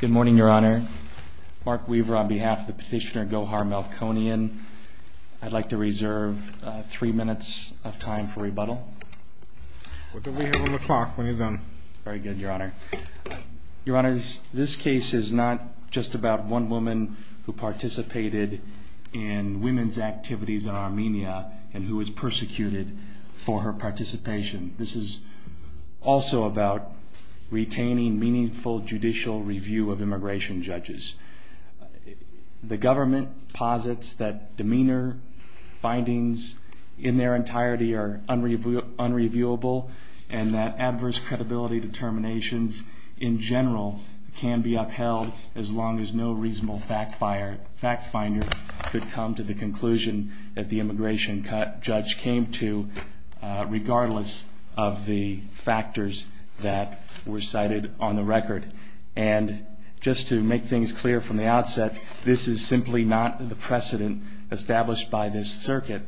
Good morning, Your Honor. Mark Weaver on behalf of the petitioner Gohar Melkonyan. I'd like to reserve three minutes of time for rebuttal. What do we have on the clock? What have you done? Very good, Your Honor. Your Honors, this case is not just about one woman who participated in women's activities in Armenia and who was persecuted for her participation. This is also about retaining meaningful judicial review of immigration judges. The government posits that demeanor findings in their entirety are unreviewable and that adverse credibility determinations in general can be upheld as long as no reasonable fact finder could come to the conclusion that the immigration judge came to, regardless of the factors that were cited on the record. And just to make things clear from the outset, this is simply not the precedent established by this circuit.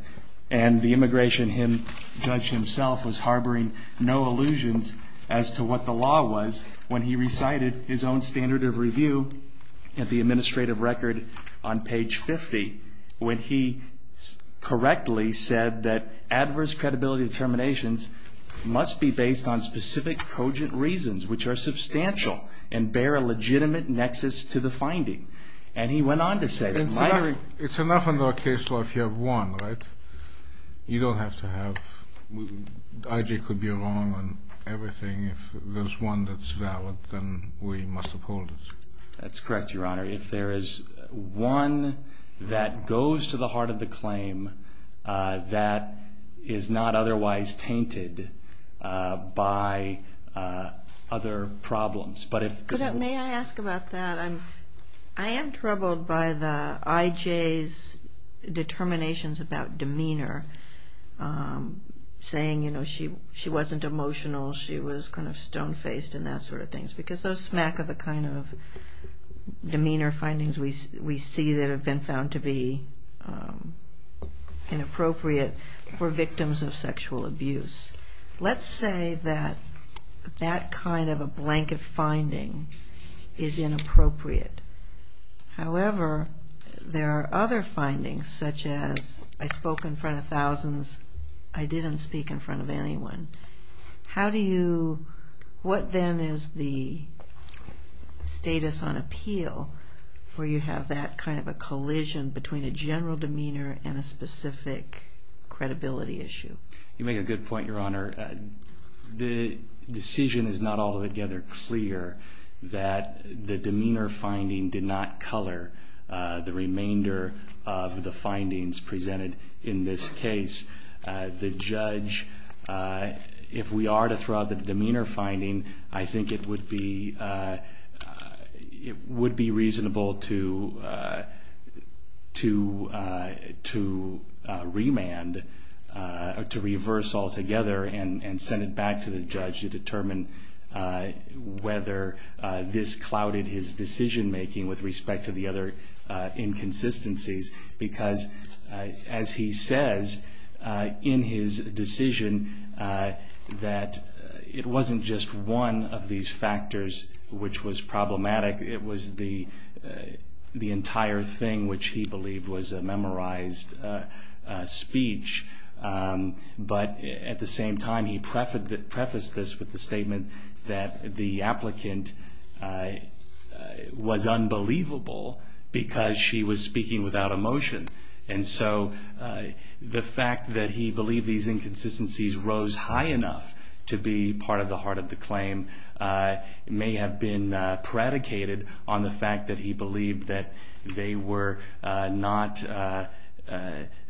And the immigration judge himself was harboring no illusions as to what the law was when he recited his own standard of review at the administrative record on page 50, when he correctly said that adverse credibility determinations must be based on specific cogent reasons, which are substantial and bear a legitimate nexus to the finding. And he went on to say that... It's enough in our case law if you have one, right? You don't have to have... IG could be wrong on everything. If there's one that's valid, then we must uphold it. That's correct, Your Honor. If there is one that goes to the heart of the claim that is not otherwise tainted by other problems, but if... May I ask about that? I am troubled by the IJ's determinations about demeanor, saying, you know, she wasn't emotional, she was kind of stone-faced and that sort of thing, because those smack of a kind of demeanor findings we see that have been found to be inappropriate for victims of sexual abuse. Let's say that that kind of a blanket finding is inappropriate. However, there are other findings, such as, I spoke in front of thousands, I didn't speak in front of anyone. How do you... What then is the status on appeal where you have that kind of a collision between a general demeanor and a specific credibility issue? You make a good point, Your Honor. The decision is not altogether clear that the demeanor finding did not color the remainder of the findings presented in this case. The judge, if we are to throw out the demeanor finding, I think it would be reasonable to remand, to reverse altogether and send it back to the judge to determine whether this clouded his decision making with respect to the other inconsistencies. Because, as he says in his decision, that it wasn't just one of these factors which was problematic, it was the entire thing which he believed was a memorized speech. But, at the same time, he prefaced this with the statement that the applicant was unbelievable because she was speaking without emotion. And so, the fact that he believed these inconsistencies rose high enough to be part of the heart of the claim may have been predicated on the fact that he believed that they were not...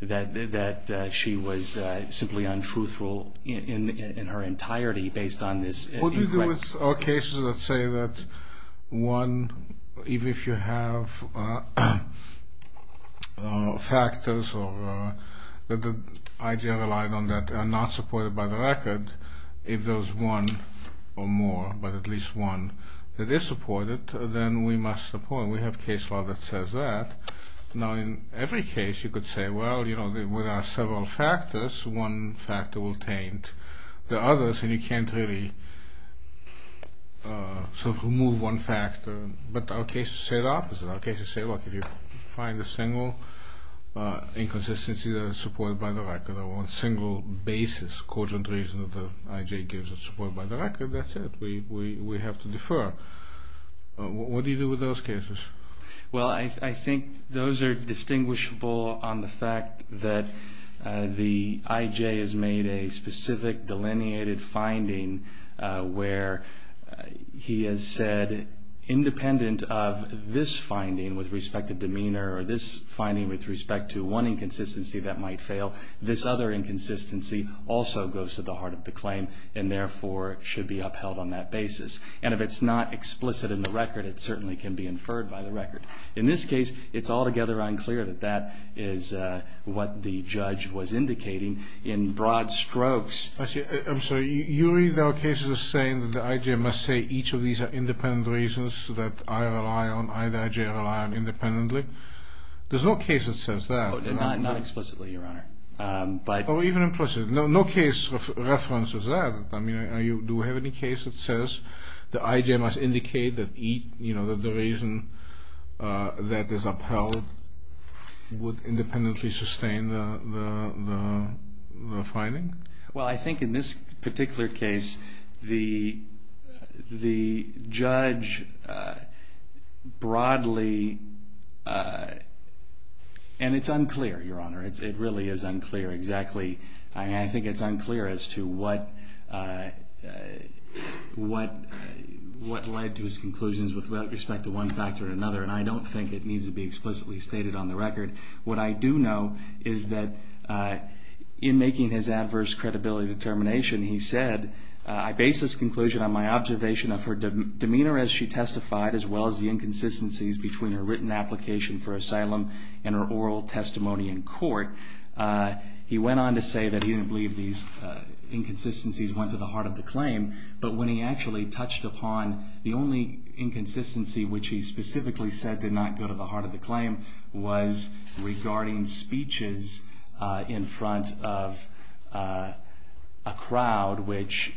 That she was simply untruthful in her entirety based on this incorrect... What do you do with all cases that say that one, even if you have factors that the IJR relied on that are not supported by the record, if there's one or more, but at least one that is supported, then we must support it. And we have case law that says that. Now, in every case, you could say, well, you know, there are several factors, one factor will taint the others, and you can't really sort of remove one factor. But our cases say the opposite. Our cases say, look, if you find a single inconsistency that is supported by the record, or one single basis, cogent reason that the IJ gives is supported by the record, that's it. We have to defer. What do you do with those cases? And if it's not explicit in the record, it certainly can be inferred by the record. In this case, it's altogether unclear that that is what the judge was indicating in broad strokes. Actually, I'm sorry, you read our cases as saying that the IJR must say each of these are independent reasons that I rely on, I, the IJR, rely on independently. There's no case that says that. Not explicitly, Your Honor. Oh, even implicit. No case references that. I mean, do we have any case that says the IJR must indicate that the reason that is upheld would independently sustain the finding? Well, I think in this particular case, the judge broadly, and it's unclear, Your Honor, it really is unclear exactly. I think it's unclear as to what led to his conclusions with respect to one factor or another, and I don't think it needs to be explicitly stated on the record. What I do know is that in making his adverse credibility determination, he said, I base this conclusion on my observation of her demeanor as she testified, as well as the inconsistencies between her written application for asylum and her oral testimony in court. He went on to say that he didn't believe these inconsistencies went to the heart of the claim, but when he actually touched upon the only inconsistency, which he specifically said did not go to the heart of the claim, was regarding speeches in front of a crowd, which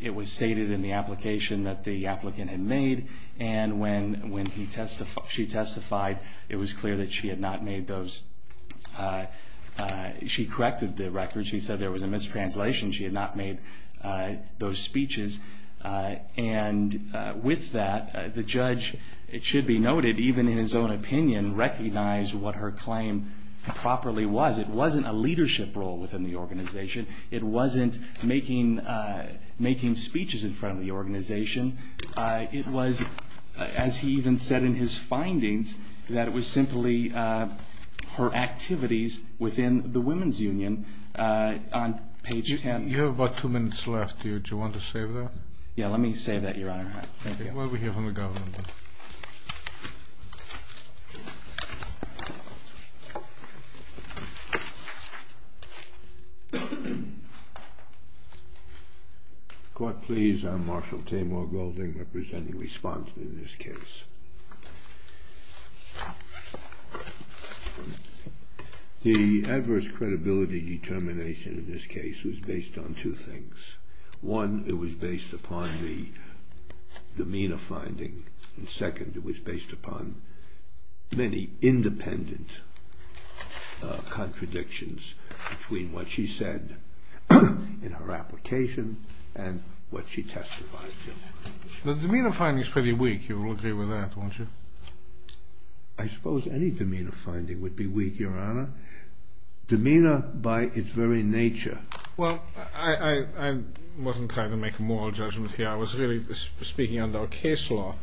it was stated in the application that the applicant had made, and when she testified, it was clear that she had not made those. She corrected the record. She said there was a mistranslation. She had not made those speeches. And with that, the judge, it should be noted, even in his own opinion, recognized what her claim properly was. It wasn't a leadership role within the organization. It wasn't making speeches in front of the organization. It was, as he even said in his findings, that it was simply her activities within the women's union. You have about two minutes left here. Do you want to save that? Yeah, let me save that, Your Honor. Thank you. While we hear from the governor. Court, please. I'm Marshal Tamar Golding, representing respondent in this case. The adverse credibility determination in this case was based on two things. One, it was based upon the demeanor finding, and second, it was based upon many independent contradictions between what she said in her application and what she testified to. The demeanor finding is pretty weak. You will agree with that, won't you? I suppose any demeanor finding would be weak, Your Honor. Demeanor by its very nature. Well, I wasn't trying to make a moral judgment here. I was really speaking under a case law.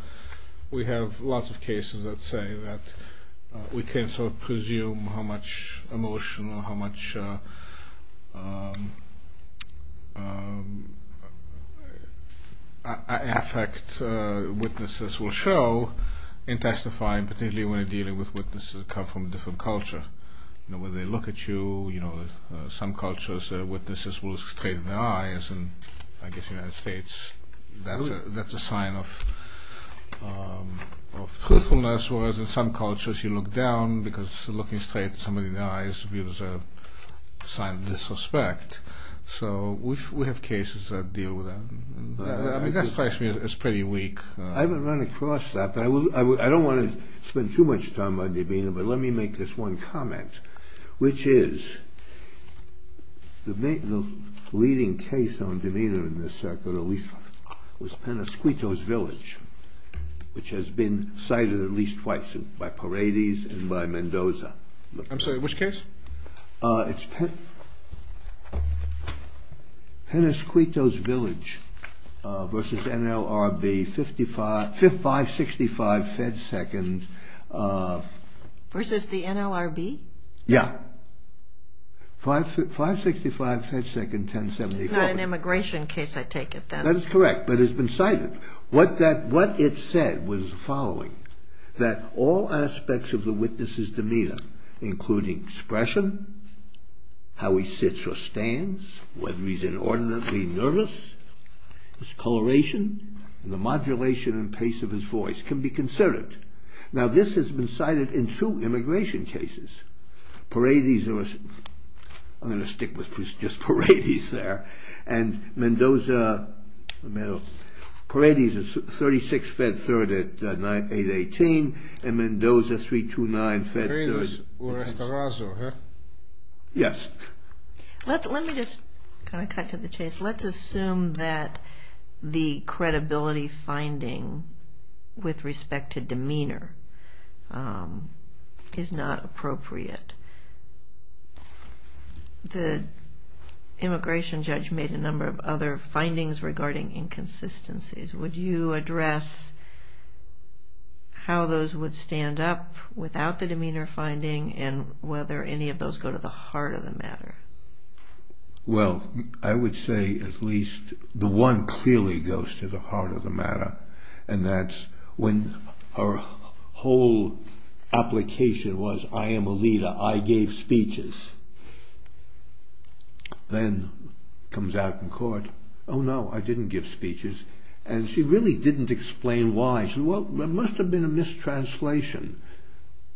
We have lots of cases that say that we can sort of presume how much emotion or how much affect witnesses will show in testifying, particularly when they're dealing with witnesses that come from a different culture. You know, when they look at you, you know, some cultures, witnesses will look straight in the eyes, and I guess in the United States, that's a sign of truthfulness, whereas in some cultures, you look down because looking straight in somebody's eyes reveals a sign of disrespect. So we have cases that deal with that. I mean, that strikes me as pretty weak. I haven't run across that, but I don't want to spend too much time on demeanor, but let me make this one comment, which is the leading case on demeanor in this circuit at least was Penasquito's Village, which has been cited at least twice by Paradis and by Mendoza. I'm sorry, which case? It's Penasquito's Village versus NLRB, 5565 Fed Second. Versus the NLRB? Yeah. 565 Fed Second, 1078 Corbett. It's not an immigration case, I take it. That is correct, but it's been cited. What it said was the following, that all aspects of the witness's demeanor, including expression, how he sits or stands, whether he's inordinately nervous, his coloration, and the modulation and pace of his voice can be considered. Now, this has been cited in two immigration cases. Paradis was, I'm going to stick with just Paradis there, and Mendoza, Paradis was 36 Fed Third at 818, and Mendoza 329 Fed Third. Yes. Let me just kind of cut to the chase. Let's assume that the credibility finding with respect to demeanor is not appropriate. The immigration judge made a number of other findings regarding inconsistencies. Would you address how those would stand up without the demeanor finding and whether any of those go to the heart of the matter? Well, I would say at least the one clearly goes to the heart of the matter, and that's when her whole application was, I am a leader, I gave speeches, then comes out in court, oh no, I didn't give speeches, and she really didn't explain why. She said, well, there must have been a mistranslation,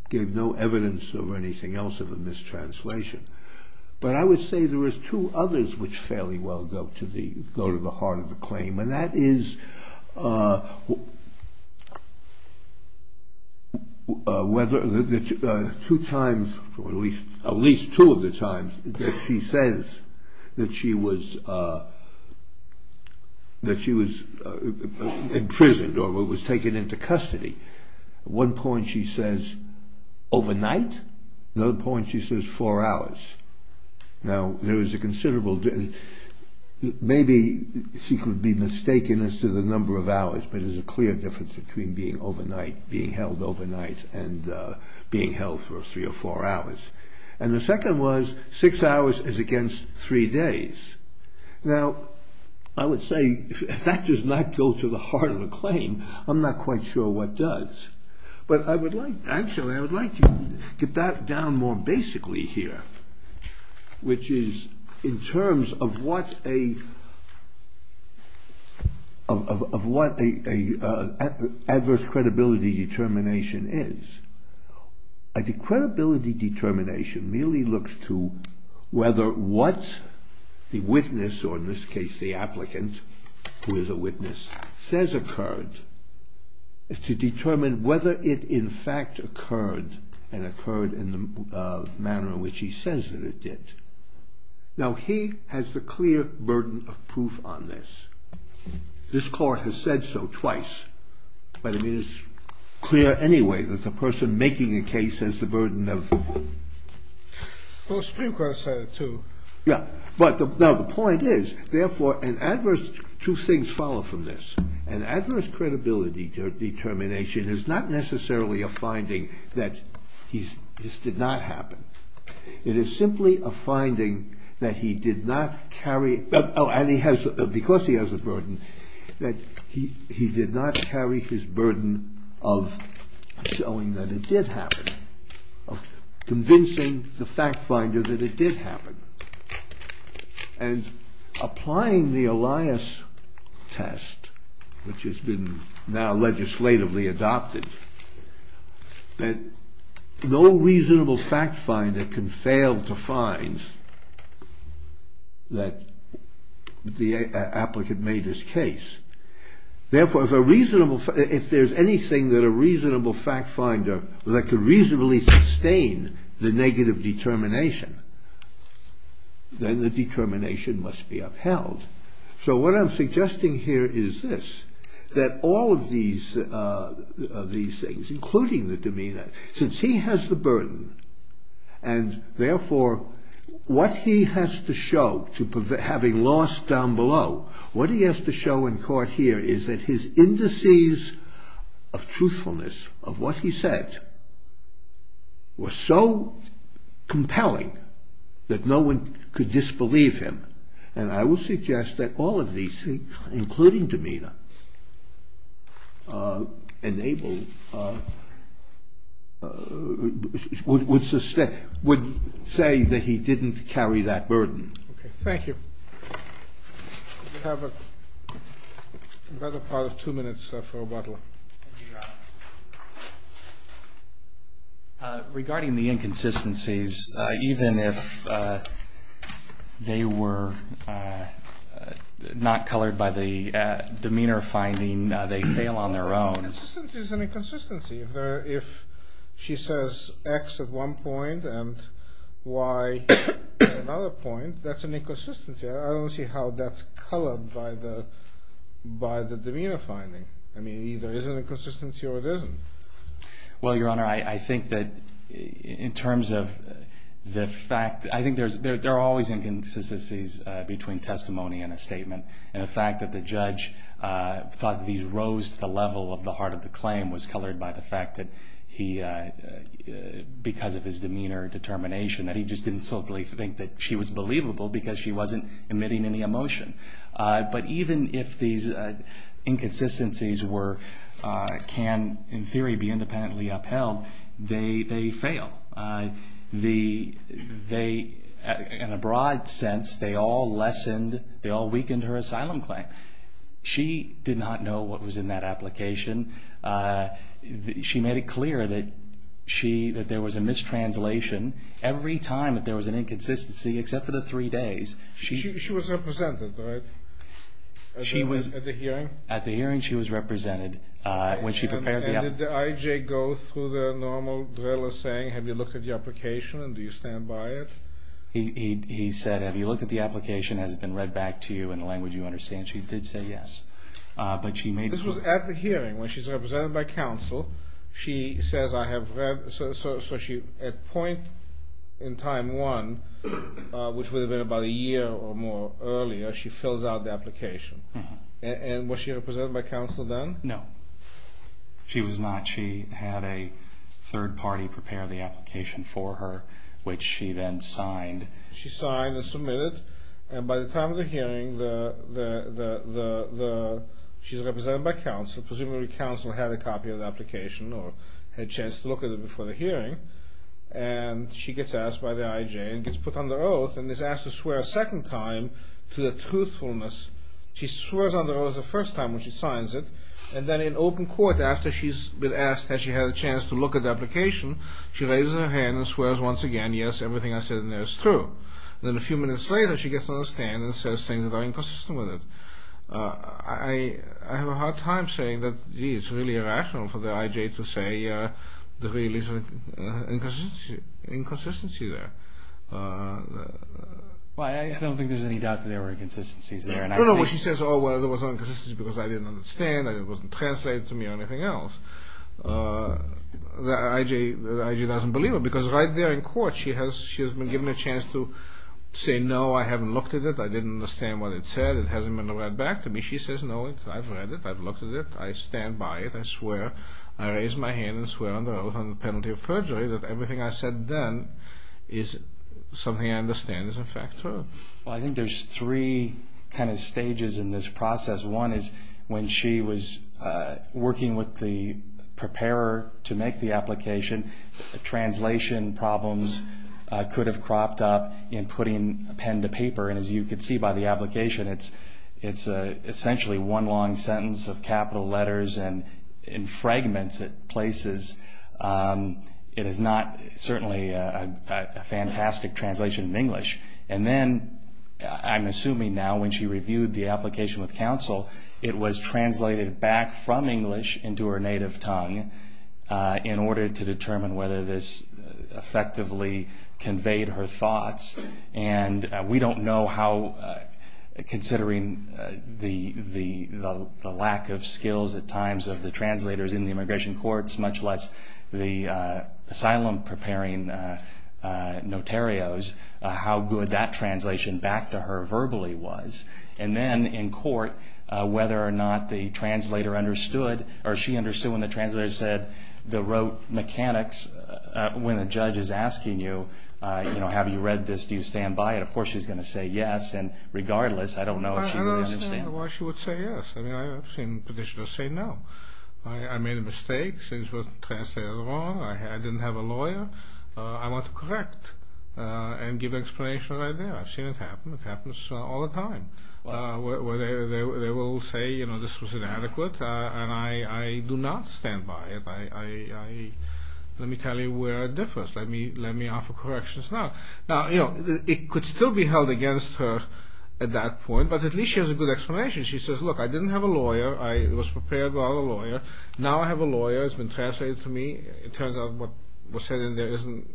gave no evidence of anything else of a mistranslation. But I would say there is two others which fairly well go to the heart of the claim, and that is whether the two times, or at least two of the times that she says that she was imprisoned or was taken into custody. One point she says overnight, another point she says four hours. Now, there is a considerable, maybe she could be mistaken as to the number of hours, but there's a clear difference between being held overnight and being held for three or four hours. And the second was six hours is against three days. Now, I would say if that does not go to the heart of the claim, I'm not quite sure what does. But I would like, actually, I would like to get that down more basically here, which is in terms of what a adverse credibility determination is. A credibility determination merely looks to whether what the witness, or in this case the applicant who is a witness, says occurred is to determine whether it in fact occurred and occurred in the manner in which he says that it did. Now, he has the clear burden of proof on this. This court has said so twice, but it is clear anyway that the person making a case has the burden of proof. Well, the Supreme Court has said it too. Yeah, but now the point is, therefore, an adverse, two things follow from this. An adverse credibility determination is not necessarily a finding that this did not happen. It is simply a finding that he did not carry, because he has a burden, that he did not carry his burden of showing that it did happen, of convincing the fact finder that it did happen. And applying the Elias test, which has been now legislatively adopted, that no reasonable fact finder can fail to find that the applicant made his case. Therefore, if there is anything that a reasonable fact finder, that could reasonably sustain the negative determination, then the determination must be upheld. So what I'm suggesting here is this, that all of these things, including the demeanor, since he has the burden, and therefore, what he has to show, having lost down below, what he has to show in court here is that his indices of truthfulness, of what he said, were so compelling that no one could disbelieve him. And I would suggest that all of these things, including demeanor, would say that he didn't carry that burden. Okay, thank you. We have another part of two minutes for rebuttal. Regarding the inconsistencies, even if they were not colored by the demeanor finding, they fail on their own. The inconsistency is an inconsistency. If she says X at one point and Y at another point, that's an inconsistency. I don't see how that's colored by the demeanor finding. I mean, it either is an inconsistency or it isn't. Well, Your Honor, I think that in terms of the fact, I think there are always inconsistencies between testimony and a statement. And the fact that the judge thought that these rose to the level of the heart of the claim was colored by the fact that he, because of his demeanor determination, that he just didn't simply think that she was believable because she wasn't emitting any emotion. But even if these inconsistencies can, in theory, be independently upheld, they fail. In a broad sense, they all weakened her asylum claim. She did not know what was in that application. She made it clear that there was a mistranslation every time that there was an inconsistency, except for the three days. She was represented, right? At the hearing? At the hearing, she was represented. And did the I.J. go through the normal drill of saying, have you looked at the application and do you stand by it? He said, have you looked at the application? Has it been read back to you in the language you understand? She did say yes. This was at the hearing, when she's represented by counsel. She says, I have read. So at point in time one, which would have been about a year or more earlier, she fills out the application. And was she represented by counsel then? No. She was not. She had a third party prepare the application for her, which she then signed. She signed and submitted. And by the time of the hearing, she's represented by counsel. Presumably, counsel had a copy of the application or had a chance to look at it before the hearing. And she gets asked by the I.J. and gets put under oath and is asked to swear a second time to the truthfulness. She swears under oath the first time when she signs it. And then in open court, after she's been asked, has she had a chance to look at the application, she raises her hand and swears once again, yes, everything I said in there is true. And then a few minutes later, she gets on the stand and says things that are inconsistent with it. I have a hard time saying that, gee, it's really irrational for the I.J. to say there really is an inconsistency there. Well, I don't think there's any doubt that there were inconsistencies there. No, no. She says, oh, well, there was inconsistencies because I didn't understand and it wasn't translated to me or anything else. The I.J. doesn't believe it because right there in court, she has been given a chance to say, no, I haven't looked at it, I didn't understand what it said, it hasn't been read back to me. She says, no, I've read it, I've looked at it, I stand by it, I swear, I raise my hand and swear under oath on the penalty of perjury that everything I said then is something I understand is in fact true. Well, I think there's three kind of stages in this process. One is when she was working with the preparer to make the application, translation problems could have cropped up in putting a pen to paper. And as you can see by the application, it's essentially one long sentence of capital letters and fragments at places. It is not certainly a fantastic translation of English. And then I'm assuming now when she reviewed the application with counsel, it was translated back from English into her native tongue in order to determine whether this effectively conveyed her thoughts. And we don't know how, considering the lack of skills at times of the translators in the immigration courts, much less the asylum preparing notarios, how good that translation back to her verbally was. And then in court, whether or not the translator understood, or she understood when the translator said the rote mechanics, when the judge is asking you, you know, have you read this, do you stand by it, of course she's going to say yes. And regardless, I don't know if she really understood. I don't understand why she would say yes. I mean, I've seen petitioners say no. I made a mistake, things were translated wrong, I didn't have a lawyer. I want to correct and give explanation right there. I've seen it happen. It happens all the time, where they will say, you know, this was inadequate, and I do not stand by it. Let me tell you where it differs. Let me offer corrections now. Now, you know, it could still be held against her at that point, but at least she has a good explanation. She says, look, I didn't have a lawyer. I was prepared without a lawyer. Now I have a lawyer. It's been translated to me. It turns out what was said in there isn't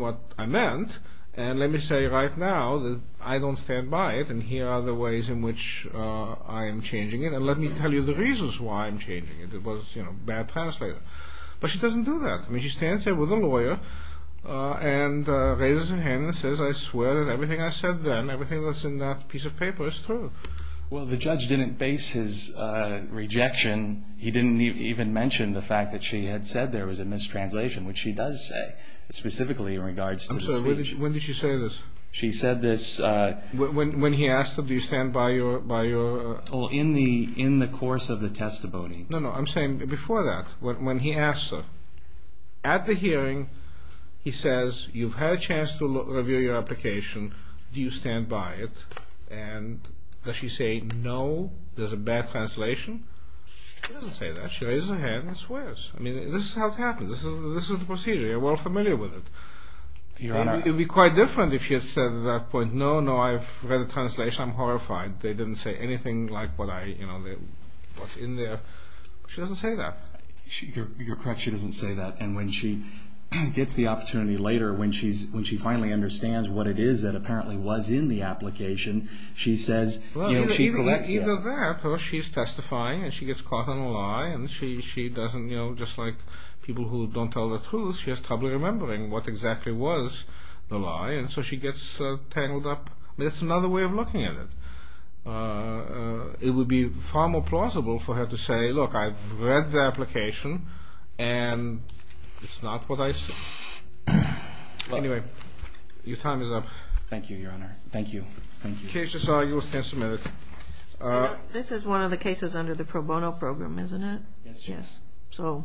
what I meant. And let me say right now that I don't stand by it, and here are the ways in which I am changing it. And let me tell you the reasons why I'm changing it. It was, you know, bad translation. But she doesn't do that. I mean, she stands there with a lawyer and raises her hand and says, I swear that everything I said then, everything that's in that piece of paper is true. Well, the judge didn't base his rejection. He didn't even mention the fact that she had said there was a mistranslation, which she does say, specifically in regards to the speech. I'm sorry. When did she say this? She said this. When he asked her, do you stand by your ---- Oh, in the course of the testimony. No, no. I'm saying before that, when he asked her. At the hearing, he says, you've had a chance to review your application. Do you stand by it? And does she say, no, there's a bad translation? She doesn't say that. She raises her hand and swears. I mean, this is how it happens. This is the procedure. We're all familiar with it. Your Honor. It would be quite different if she had said at that point, no, no, I've read the translation. I'm horrified. They didn't say anything like what I, you know, what's in there. She doesn't say that. You're correct. She doesn't say that. And when she gets the opportunity later, when she finally understands what it is that apparently was in the application, she says, you know, she collects that. And just like people who don't tell the truth, she has trouble remembering what exactly was the lie. And so she gets tangled up. That's another way of looking at it. It would be far more plausible for her to say, look, I've read the application, and it's not what I said. Anyway, your time is up. Thank you, Your Honor. Thank you. In case you saw, you will stand submitted. This is one of the cases under the pro bono program, isn't it? Yes, Your Honor. So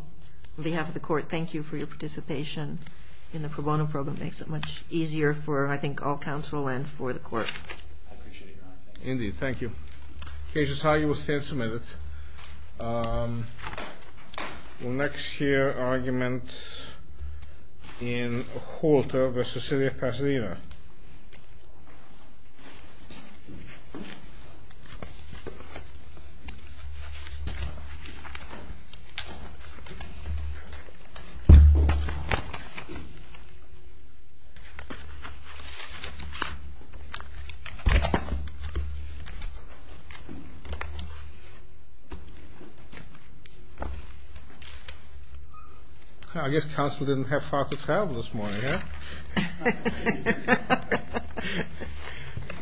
on behalf of the court, thank you for your participation in the pro bono program. It makes it much easier for, I think, all counsel and for the court. I appreciate it, Your Honor. Indeed. Thank you. In case you saw, you will stand submitted. All right. We'll next hear argument in Holter v. City of Pasadena. I guess counsel didn't have far to travel this morning, huh?